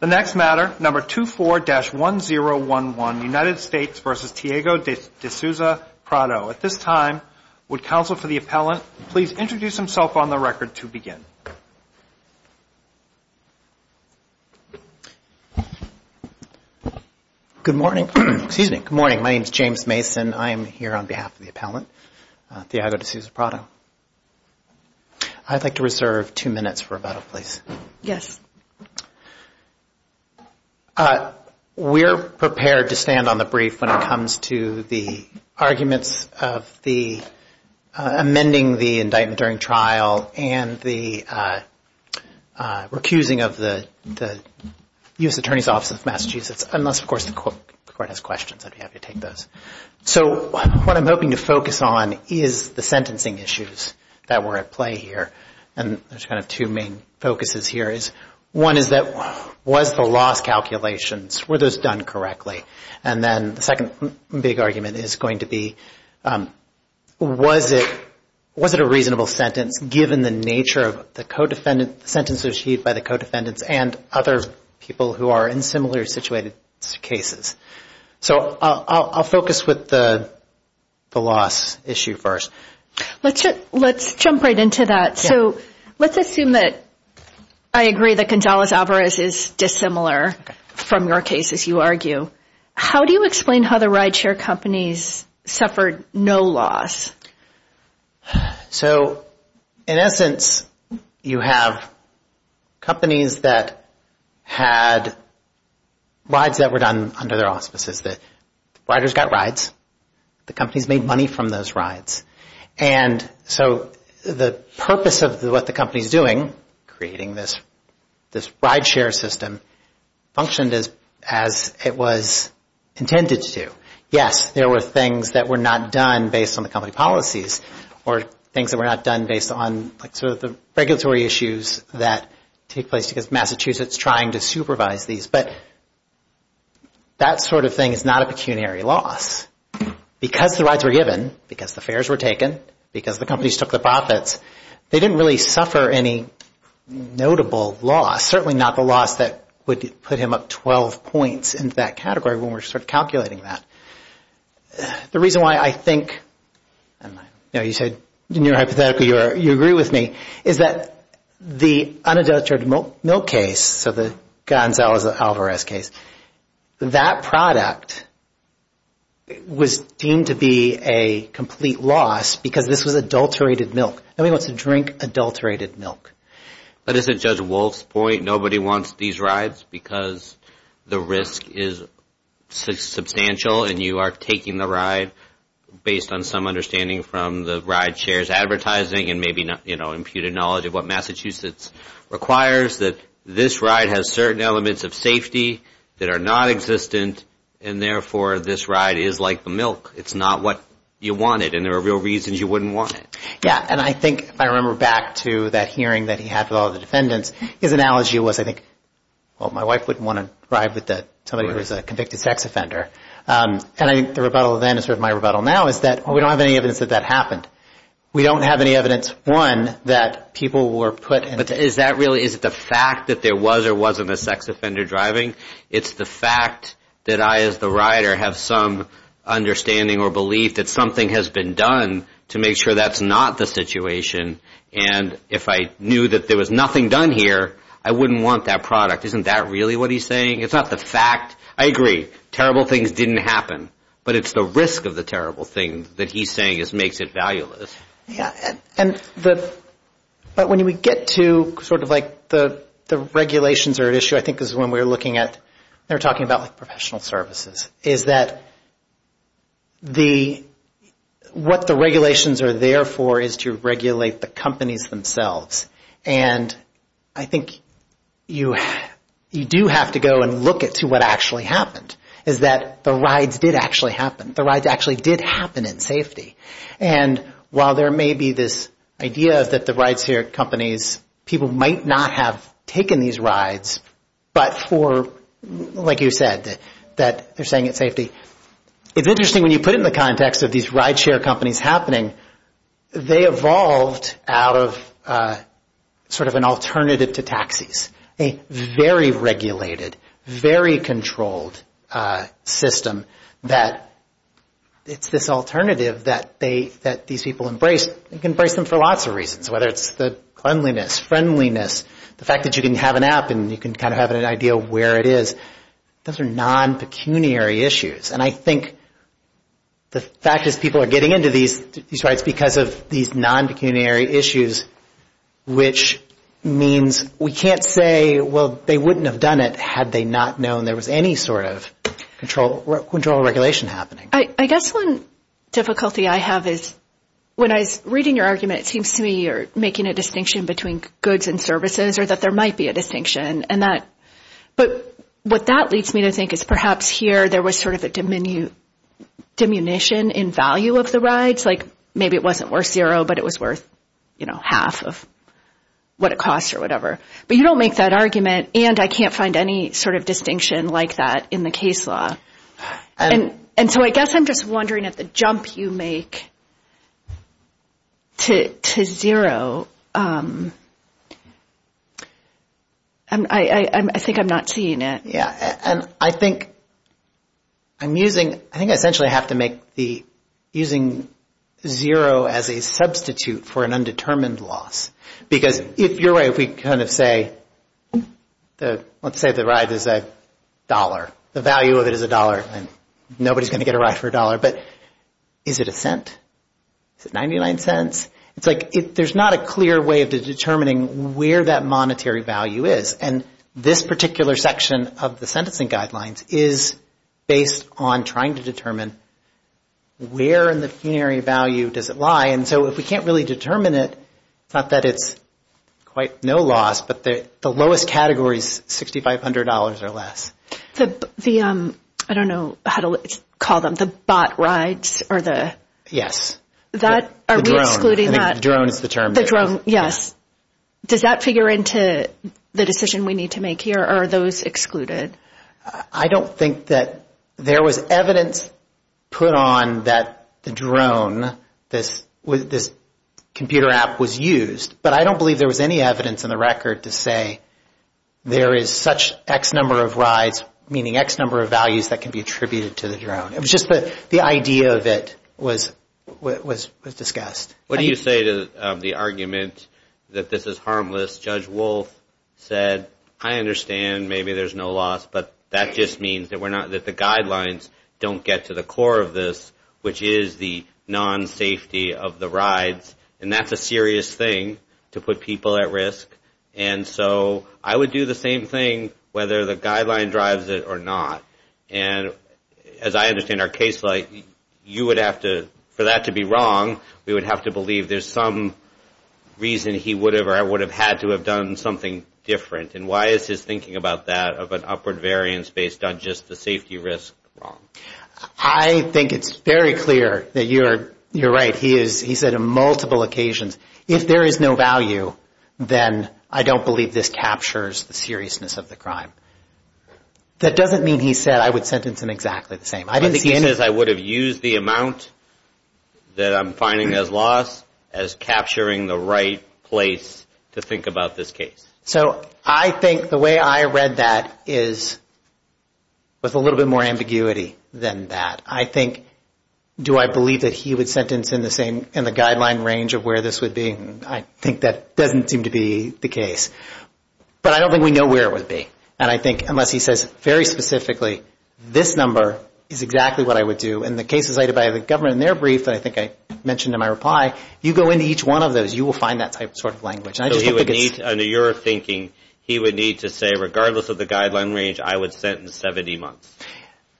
The next matter, number 24-1011, United States v. Thiago de Souza Prado. At this time, would counsel for the appellant please introduce himself on the record to begin. Good morning. My name is James Mason. I am here on behalf of the appellant, Thiago de Souza Prado. I'd like to reserve two minutes for rebuttal, please. Yes. We're prepared to stand on the brief when it comes to the arguments of the amending the indictment during trial and the recusing of the U.S. Attorney's Office of Massachusetts, unless, of course, the court has questions. I'd be happy to take those. So what I'm hoping to focus on is the sentencing issues that were at play here. And there's kind of two main focuses here. One is that was the loss calculations, were those done correctly? And then the second big argument is going to be, was it a reasonable sentence given the nature of the sentence received by the co-defendants and other people who are in similar situated cases? So I'll focus with the loss issue first. Let's jump right into that. So let's assume that I agree that Gonzalez-Alvarez is dissimilar from your case, as you argue. How do you explain how the ride share companies suffered no loss? So in essence, you have companies that had rides that were done under their auspices. Riders got rides. The companies made money from those rides. And so the purpose of what the company is doing, creating this ride share system, functioned as it was intended to. Yes, there were things that were not done based on the company policies or things that were not done based on the regulatory issues that take place because Massachusetts is trying to supervise these. But that sort of thing is not a pecuniary loss. Because the rides were given, because the fares were taken, because the companies took the profits, they didn't really suffer any notable loss. Certainly not the loss that would put him up 12 points in that category when we're sort of calculating that. The reason why I think, you know, you said in your hypothetical you agree with me, is that the unadulterated milk case, so the Gonzalez-Alvarez case, that product was deemed to be a complete loss because this was adulterated milk. Nobody wants to drink adulterated milk. But isn't Judge Wolf's point nobody wants these rides because the risk is substantial and you are taking the ride based on some understanding from the ride share's advertising and maybe imputed knowledge of what Massachusetts requires, that this ride has certain elements of safety that are nonexistent and therefore this ride is like the milk. It's not what you wanted and there are real reasons you wouldn't want it. Yeah, and I think if I remember back to that hearing that he had with all the defendants, his analogy was I think, well, my wife wouldn't want to ride with somebody who was a convicted sex offender. And I think the rebuttal then is sort of my rebuttal now is that we don't have any evidence that that happened. We don't have any evidence, one, that people were put in. But is that really, is it the fact that there was or wasn't a sex offender driving? It's the fact that I as the rider have some understanding or belief that something has been done to make sure that's not the situation and if I knew that there was nothing done here, I wouldn't want that product. Isn't that really what he's saying? It's not the fact. I agree, terrible things didn't happen. But it's the risk of the terrible thing that he's saying makes it valueless. Yeah, but when we get to sort of like the regulations are at issue, I think is when we're looking at, they're talking about like professional services, is that what the regulations are there for is to regulate the companies themselves. And I think you do have to go and look at to what actually happened is that the rides did actually happen. The rides actually did happen in safety. And while there may be this idea that the rideshare companies, people might not have taken these rides, but for, like you said, that they're saying it's safety. It's interesting when you put it in the context of these rideshare companies happening, they evolved out of sort of an alternative to taxis. A very regulated, very controlled system that it's this alternative that these people embrace. You can embrace them for lots of reasons, whether it's the cleanliness, friendliness, the fact that you can have an app and you can kind of have an idea of where it is. Those are non-pecuniary issues. And I think the fact is people are getting into these rides because of these non-pecuniary issues, which means we can't say, well, they wouldn't have done it had they not known there was any sort of control regulation happening. I guess one difficulty I have is when I was reading your argument, it seems to me you're making a distinction between goods and services or that there might be a distinction. But what that leads me to think is perhaps here there was sort of a diminution in value of the rides. It was like maybe it wasn't worth zero, but it was worth half of what it costs or whatever. But you don't make that argument, and I can't find any sort of distinction like that in the case law. And so I guess I'm just wondering at the jump you make to zero, I think I'm not seeing it. I think I essentially have to make using zero as a substitute for an undetermined loss. Because if you're right, let's say the ride is a dollar. The value of it is a dollar, and nobody's going to get a ride for a dollar. But is it a cent? Is it 99 cents? It's like there's not a clear way of determining where that monetary value is. And this particular section of the sentencing guidelines is based on trying to determine where in the funerary value does it lie. And so if we can't really determine it, it's not that it's quite no loss, but the lowest category is $6,500 or less. I don't know how to call them, the bot rides or the… Yes. Are we excluding that? The drone is the term. The drone, yes. Does that figure into the decision we need to make here, or are those excluded? I don't think that there was evidence put on that the drone, this computer app was used. But I don't believe there was any evidence in the record to say there is such X number of rides, meaning X number of values that can be attributed to the drone. It was just the idea of it was discussed. What do you say to the argument that this is harmless? Judge Wolf said, I understand maybe there's no loss, but that just means that the guidelines don't get to the core of this, which is the non-safety of the rides. And that's a serious thing to put people at risk. And so I would do the same thing whether the guideline drives it or not. And as I understand our case, you would have to, for that to be wrong, we would have to believe there's some reason he would have or I would have had to have done something different. And why is his thinking about that of an upward variance based on just the safety risk wrong? I think it's very clear that you're right. He said on multiple occasions, if there is no value, then I don't believe this captures the seriousness of the crime. That doesn't mean he said I would sentence him exactly the same. I think he says I would have used the amount that I'm finding as loss as capturing the right place to think about this case. So I think the way I read that is with a little bit more ambiguity than that. I think, do I believe that he would sentence in the guideline range of where this would be? I think that doesn't seem to be the case. But I don't think we know where it would be. And I think, unless he says very specifically, this number is exactly what I would do. In the cases cited by the government in their brief that I think I mentioned in my reply, you go into each one of those, you will find that sort of language. So he would need, under your thinking, he would need to say, regardless of the guideline range, I would sentence 70 months.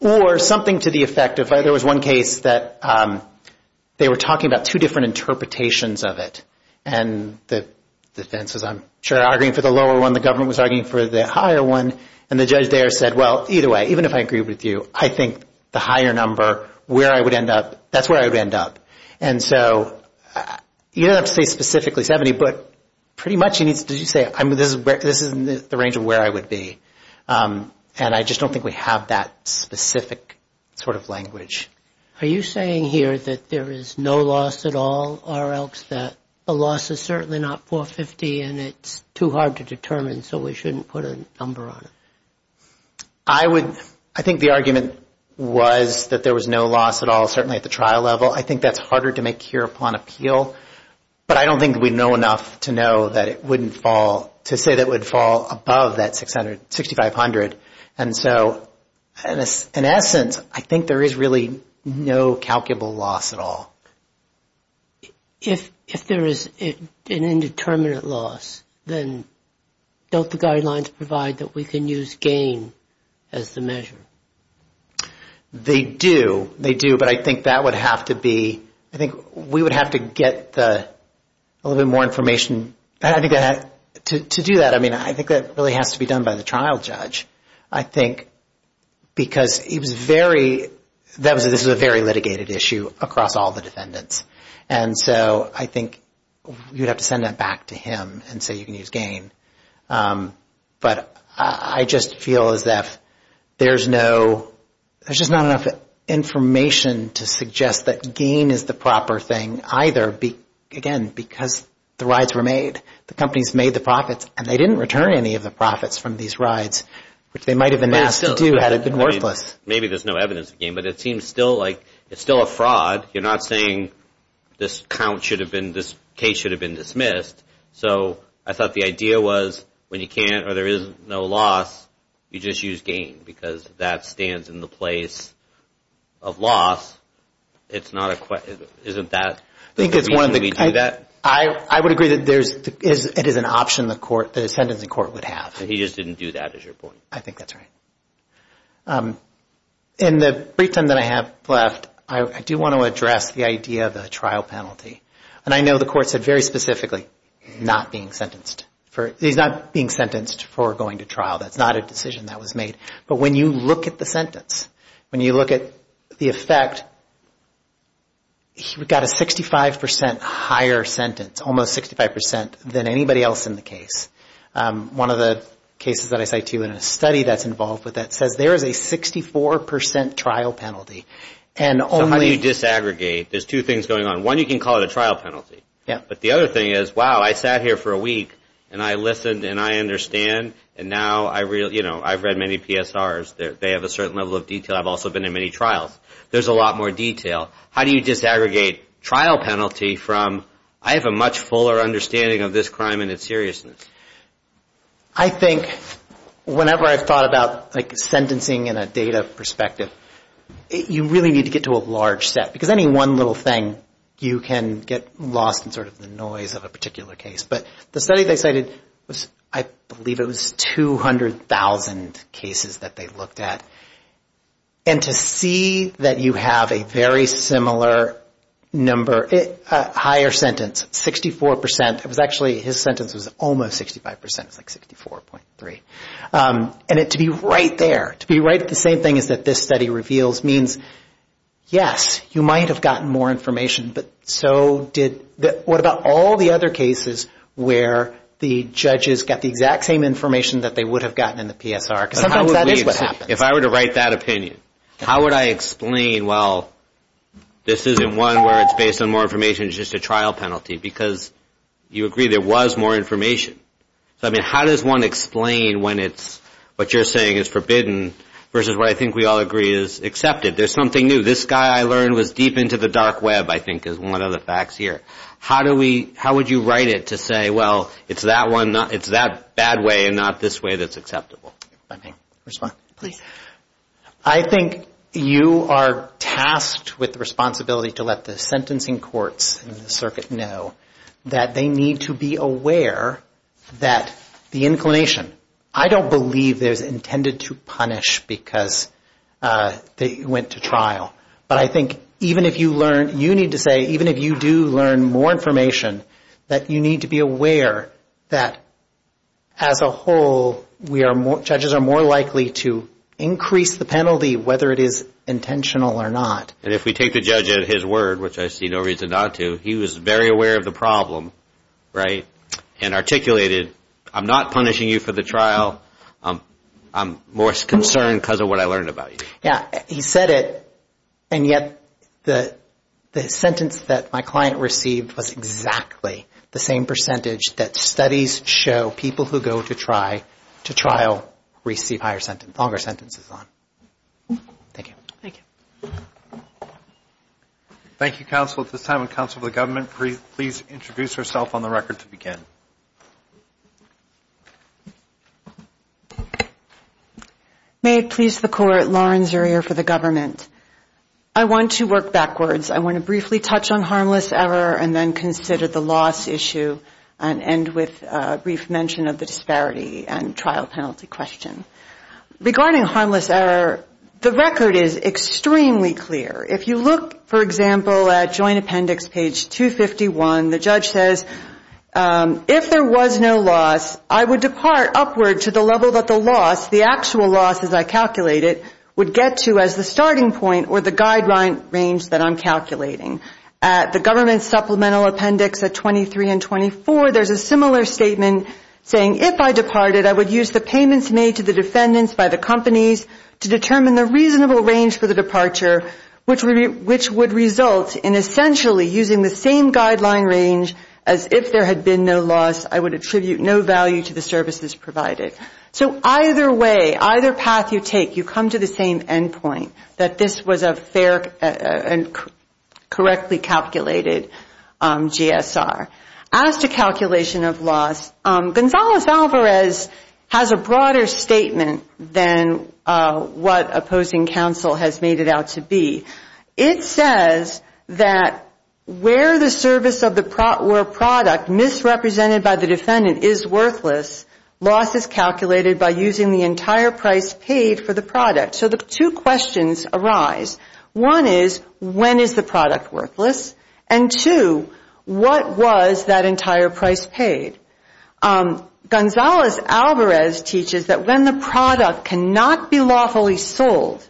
Or something to the effect, if there was one case that they were talking about two different interpretations of it, and the defense is I'm sure arguing for the lower one, the government was arguing for the higher one, and the judge there said, well, either way, even if I agree with you, I think the higher number, where I would end up, that's where I would end up. And so you don't have to say specifically 70, but pretty much he needs to say, this is the range of where I would be. And I just don't think we have that specific sort of language. Are you saying here that there is no loss at all, or else that the loss is certainly not 450 and it's too hard to determine, so we shouldn't put a number on it? I would, I think the argument was that there was no loss at all, certainly at the trial level. I think that's harder to make here upon appeal. But I don't think we know enough to know that it wouldn't fall, to say that it would fall above that 6,500. And so in essence, I think there is really no calculable loss at all. If there is an indeterminate loss, then don't the guidelines provide that we can use gain as the measure? They do, they do, but I think that would have to be, I think we would have to get a little bit more information to do that. But I think that really has to be done by the trial judge. I think because he was very, this was a very litigated issue across all the defendants. And so I think we would have to send that back to him and say you can use gain. But I just feel as if there's no, there's just not enough information to suggest that gain is the proper thing either. Again, because the rides were made, the companies made the profits, and they didn't return any of the profits from these rides, which they might have been asked to do had it been worthless. Maybe there's no evidence of gain, but it seems still like, it's still a fraud. You're not saying this count should have been, this case should have been dismissed. So I thought the idea was when you can't or there is no loss, you just use gain because that stands in the place of loss. It's not a, isn't that the reason we do that? I would agree that there's, it is an option the court, the sentencing court would have. He just didn't do that is your point? I think that's right. In the brief time that I have left, I do want to address the idea of a trial penalty. And I know the court said very specifically not being sentenced for, he's not being sentenced for going to trial. That's not a decision that was made. But when you look at the sentence, when you look at the effect, he got a 65% higher sentence, almost 65% than anybody else in the case. One of the cases that I cite to you in a study that's involved with that says there is a 64% trial penalty. So how do you disaggregate? There's two things going on. One, you can call it a trial penalty. But the other thing is, wow, I sat here for a week and I listened and I understand. And now I've read many PSRs. They have a certain level of detail. I've also been in many trials. There's a lot more detail. How do you disaggregate trial penalty from I have a much fuller understanding of this crime and its seriousness? I think whenever I've thought about sentencing in a data perspective, you really need to get to a large set. Because any one little thing, you can get lost in sort of the noise of a particular case. But the study they cited, I believe it was 200,000 cases that they looked at. And to see that you have a very similar number, higher sentence, 64%. It was actually, his sentence was almost 65%. It was like 64.3. And to be right there, to be right at the same thing as this study reveals, means yes, you might have gotten more information, but so did, what about all the other cases where the judges got the exact same information that they would have gotten in the PSR? Because sometimes that is what happens. If I were to write that opinion, how would I explain, well, this isn't one where it's based on more information, it's just a trial penalty? Because you agree there was more information. So, I mean, how does one explain when what you're saying is forbidden versus what I think we all agree is accepted? There's something new. This guy I learned was deep into the dark web, I think, is one of the facts here. How would you write it to say, well, it's that bad way and not this way that's acceptable? If I may respond. I think you are tasked with the responsibility to let the sentencing courts and the circuit know that they need to be aware that the inclination, I don't believe there's intended to punish because they went to trial, but I think even if you learn, you need to say, even if you do learn more information, that you need to be aware that as a whole judges are more likely to increase the penalty whether it is intentional or not. And if we take the judge at his word, which I see no reason not to, he was very aware of the problem, right, and articulated, I'm not punishing you for the trial, I'm more concerned because of what I learned about you. Yeah, he said it, and yet the sentence that my client received was exactly the same percentage that studies show people who go to trial receive longer sentences on. Thank you. Thank you. Thank you, counsel. At this time, on counsel for the government, please introduce yourself on the record to begin. May it please the court, Lauren Zurier for the government. I want to work backwards. I want to briefly touch on harmless error and then consider the loss issue and end with a brief mention of the disparity and trial penalty question. Regarding harmless error, the record is extremely clear. If you look, for example, at joint appendix page 251, the judge says, if there was no loss, I would depart upward to the level that the loss, the actual loss as I calculate it, would get to as the starting point or the guideline range that I'm calculating. At the government supplemental appendix at 23 and 24, there's a similar statement saying, if I departed, I would use the payments made to the defendants by the companies to determine the reasonable range for the departure, which would result in essentially using the same guideline range as if there had been no loss, I would attribute no value to the services provided. So either way, either path you take, you come to the same end point, that this was a fair and correctly calculated GSR. As to calculation of loss, Gonzalez-Alvarez has a broader statement than what opposing counsel has made it out to be. It says that where the service or product misrepresented by the defendant is worthless, loss is calculated by using the entire price paid for the product. So the two questions arise. One is, when is the product worthless? And two, what was that entire price paid? Gonzalez-Alvarez teaches that when the product cannot be lawfully sold,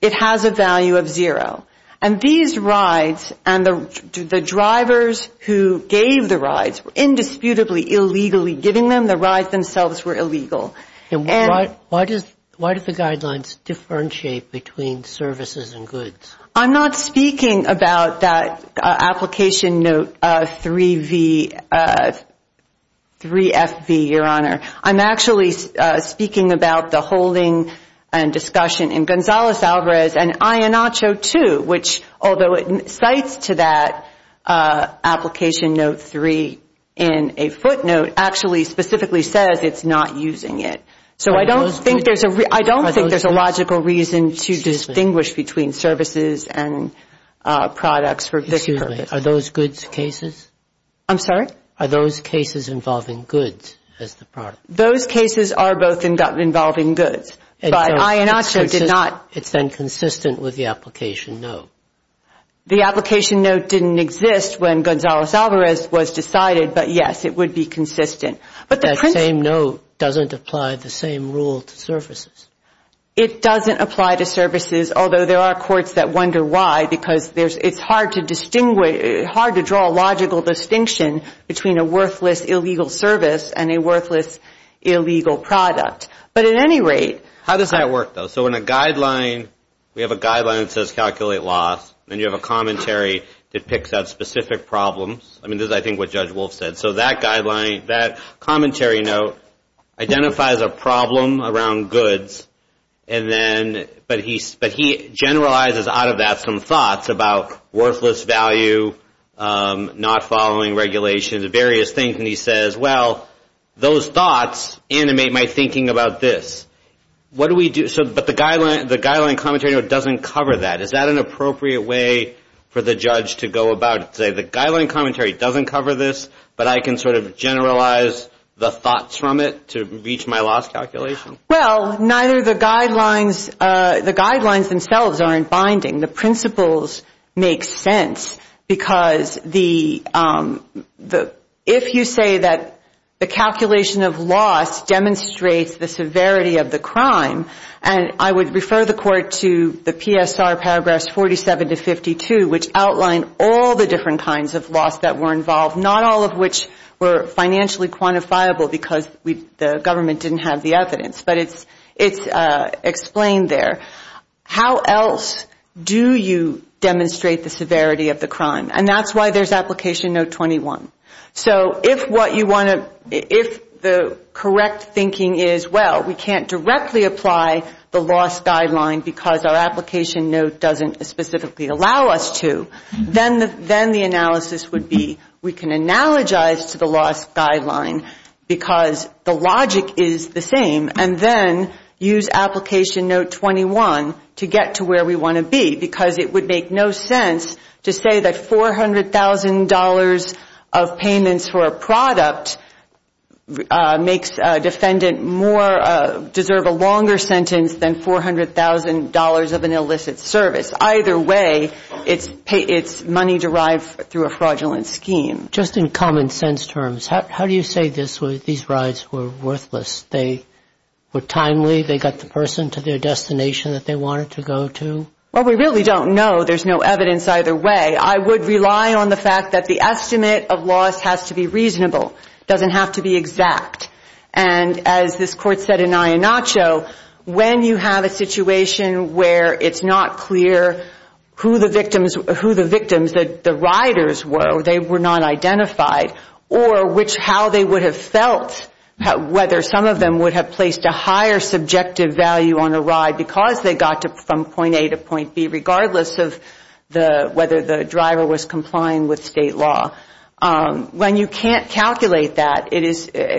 it has a value of zero. And these rides and the drivers who gave the rides were indisputably illegally giving them. The rides themselves were illegal. And why do the guidelines differentiate between services and goods? I'm not speaking about that application note 3FV, Your Honor. I'm actually speaking about the holding and discussion in Gonzalez-Alvarez and Iannaccio too, which although it cites to that application note three in a footnote, actually specifically says it's not using it. So I don't think there's a logical reason to distinguish between services and products for this purpose. Excuse me. Are those goods cases? I'm sorry? Are those cases involving goods as the product? Those cases are both involving goods, but Iannaccio did not. It's then consistent with the application note. The application note didn't exist when Gonzalez-Alvarez was decided, but, yes, it would be consistent. That same note doesn't apply the same rule to services. It doesn't apply to services, although there are courts that wonder why, because it's hard to draw a logical distinction between a worthless illegal service and a worthless illegal product. But at any rate. How does that work, though? So in a guideline, we have a guideline that says calculate loss, and you have a commentary that picks out specific problems. I mean, this is, I think, what Judge Wolf said. So that guideline, that commentary note identifies a problem around goods, but he generalizes out of that some thoughts about worthless value, not following regulations, various things. And he says, well, those thoughts animate my thinking about this. What do we do? But the guideline commentary note doesn't cover that. Is that an appropriate way for the judge to go about it? To say the guideline commentary doesn't cover this, but I can sort of generalize the thoughts from it to reach my loss calculation? Well, neither the guidelines, the guidelines themselves aren't binding. The principles make sense, because if you say that the calculation of loss demonstrates the severity of the crime, and I would refer the court to the PSR paragraphs 47 to 52, which outline all the different kinds of loss that were involved, not all of which were financially quantifiable because the government didn't have the evidence. But it's explained there. How else do you demonstrate the severity of the crime? And that's why there's application note 21. So if what you want to, if the correct thinking is, well, we can't directly apply the loss guideline because our application note doesn't specifically allow us to, then the analysis would be we can analogize to the loss guideline because the logic is the same, and then use application note 21 to get to where we want to be, because it would make no sense to say that $400,000 of payments for a product makes a defendant more, deserve a longer sentence than $400,000 of an illicit service. Either way, it's money derived through a fraudulent scheme. Just in common sense terms, how do you say these rides were worthless? They were timely? They got the person to their destination that they wanted to go to? Well, we really don't know. There's no evidence either way. I would rely on the fact that the estimate of loss has to be reasonable. It doesn't have to be exact. And as this court said in Ayanacho, when you have a situation where it's not clear who the victims, who the victims, the riders were, they were not identified, or which, how they would have felt, whether some of them would have placed a higher subjective value on a ride because they got from point A to point B, regardless of whether the driver was complying with state law. When you can't calculate that,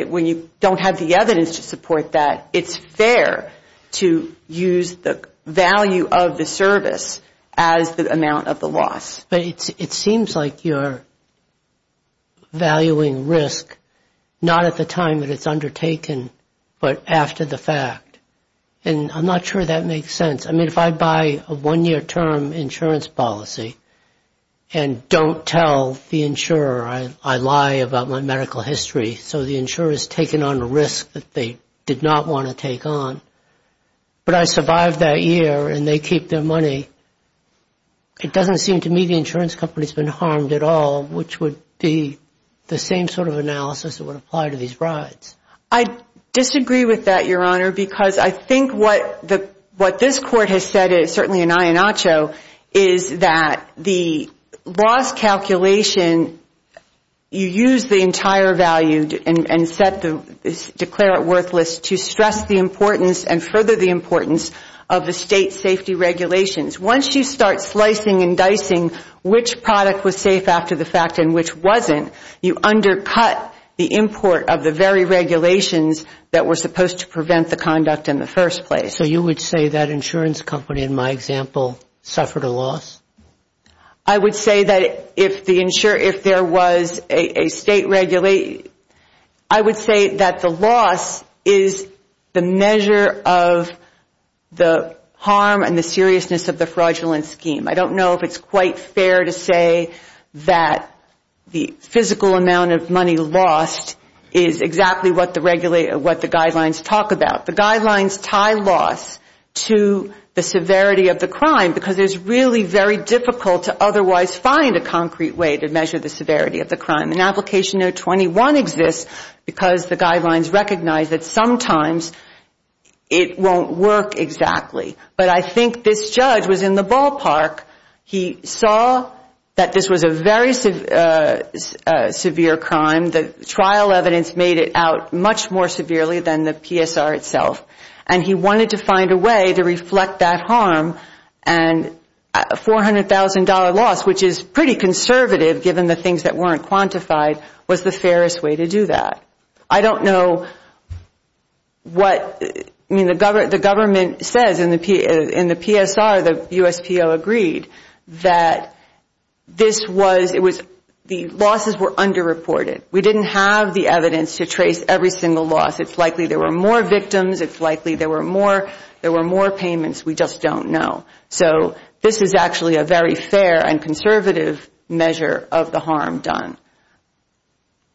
when you don't have the evidence to support that, it's fair to use the value of the service as the amount of the loss. But it seems like you're valuing risk not at the time that it's undertaken, but after the fact. And I'm not sure that makes sense. I mean, if I buy a one-year term insurance policy and don't tell the insurer I lie about my medical history so the insurer has taken on a risk that they did not want to take on, but I survived that year and they keep their money, it doesn't seem to me the insurance company has been harmed at all, which would be the same sort of analysis that would apply to these rides. I disagree with that, Your Honor, because I think what this court has said, and it's certainly in Ayanacho, is that the loss calculation, you use the entire value and declare it worthless to stress the importance and further the importance of the state safety regulations. Once you start slicing and dicing which product was safe after the fact and which wasn't, you undercut the import of the very regulations that were supposed to prevent the conduct in the first place. So you would say that insurance company, in my example, suffered a loss? I would say that if there was a state regulation, I would say that the loss is the measure of the harm and the seriousness of the fraudulent scheme. I don't know if it's quite fair to say that the physical amount of money lost is exactly what the guidelines talk about. The guidelines tie loss to the severity of the crime, because it's really very difficult to otherwise find a concrete way to measure the severity of the crime. And Application No. 21 exists because the guidelines recognize that sometimes it won't work exactly. But I think this judge was in the ballpark. He saw that this was a very severe crime. The trial evidence made it out much more severely than the PSR itself. And he wanted to find a way to reflect that harm. And a $400,000 loss, which is pretty conservative given the things that weren't quantified, was the fairest way to do that. I don't know what the government says in the PSR. The USPO agreed that the losses were underreported. We didn't have the evidence to trace every single loss. It's likely there were more victims. It's likely there were more payments. We just don't know. So this is actually a very fair and conservative measure of the harm done.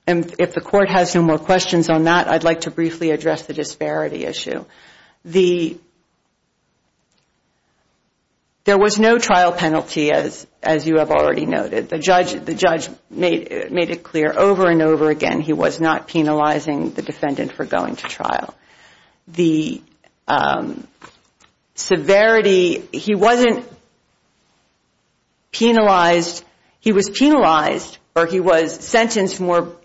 And if the Court has no more questions on that, I'd like to briefly address the disparity issue. There was no trial penalty, as you have already noted. The judge made it clear over and over again he was not penalizing the defendant for going to trial. The severity, he wasn't penalized. He was penalized, or he was sentenced more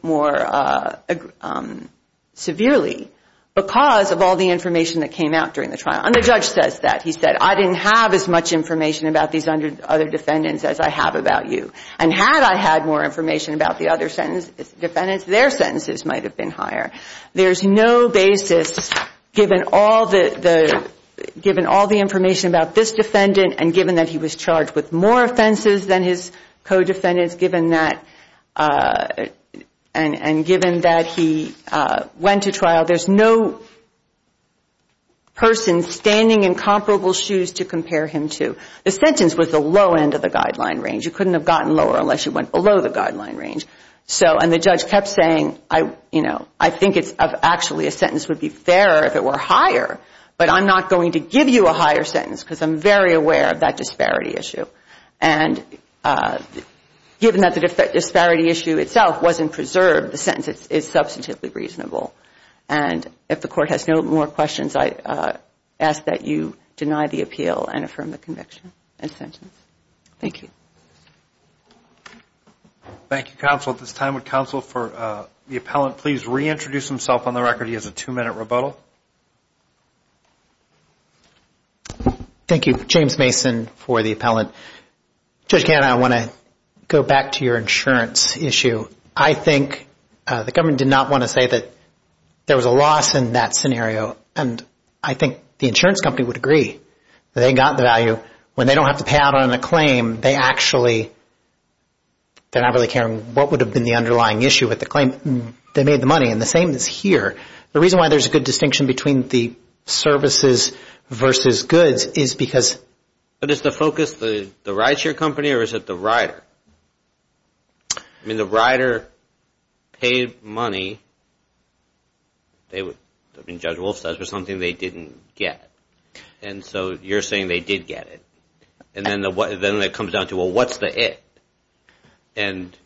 severely because of all the information that came out during the trial. And the judge says that. He said, I didn't have as much information about these other defendants as I have about you. And had I had more information about the other defendants, their sentences might have been higher. There's no basis, given all the information about this defendant, and given that he was charged with more offenses than his co-defendants, and given that he went to trial, there's no person standing in comparable shoes to compare him to. The sentence was the low end of the guideline range. You couldn't have gotten lower unless you went below the guideline range. And the judge kept saying, I think actually a sentence would be fairer if it were higher, but I'm not going to give you a higher sentence because I'm very aware of that disparity issue. And given that the disparity issue itself wasn't preserved, the sentence is substantively reasonable. And if the Court has no more questions, I ask that you deny the appeal and affirm the conviction and sentence. Thank you. Thank you, counsel. At this time, would counsel for the appellant please reintroduce himself on the record? He has a two-minute rebuttal. Thank you. James Mason for the appellant. Judge Ganna, I want to go back to your insurance issue. I think the government did not want to say that there was a loss in that scenario, and I think the insurance company would agree that they got the value. So when they don't have to pay out on a claim, they actually, they're not really caring what would have been the underlying issue with the claim. They made the money, and the same is here. The reason why there's a good distinction between the services versus goods is because. But is the focus the rideshare company or is it the rider? I mean, the rider paid money. I mean, Judge Wolf says it was something they didn't get. And so you're saying they did get it. And then it comes down to, well, what's the it? And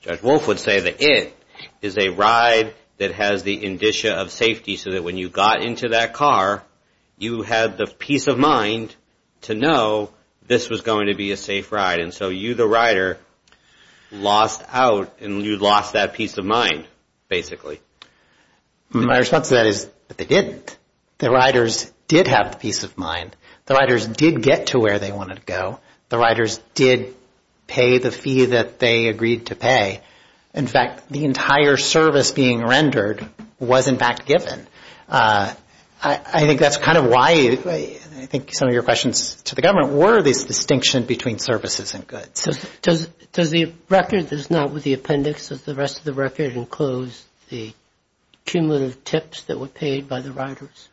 Judge Wolf would say the it is a ride that has the indicia of safety so that when you got into that car, you had the peace of mind to know this was going to be a safe ride. And so you, the rider, lost out and you lost that peace of mind, basically. My response to that is they didn't. The riders did have the peace of mind. The riders did get to where they wanted to go. The riders did pay the fee that they agreed to pay. In fact, the entire service being rendered was, in fact, given. I think that's kind of why I think some of your questions to the government were this distinction between services and goods. So does the record that's not with the appendix, does the rest of the record enclose the cumulative tips that were paid by the riders?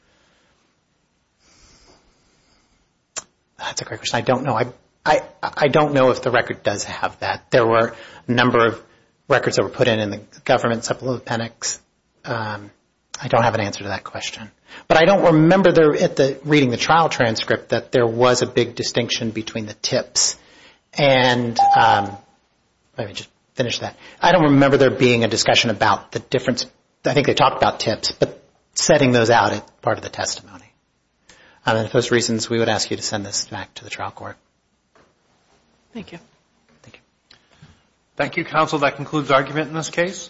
That's a great question. I don't know. I don't know if the record does have that. There were a number of records that were put in in the government supplemental appendix. I don't have an answer to that question. But I don't remember reading the trial transcript that there was a big distinction between the tips. And let me just finish that. I don't remember there being a discussion about the difference. I think they talked about tips, but setting those out is part of the testimony. And if there's reasons, we would ask you to send this back to the trial court. Thank you. Thank you. Thank you, counsel. That concludes argument in this case.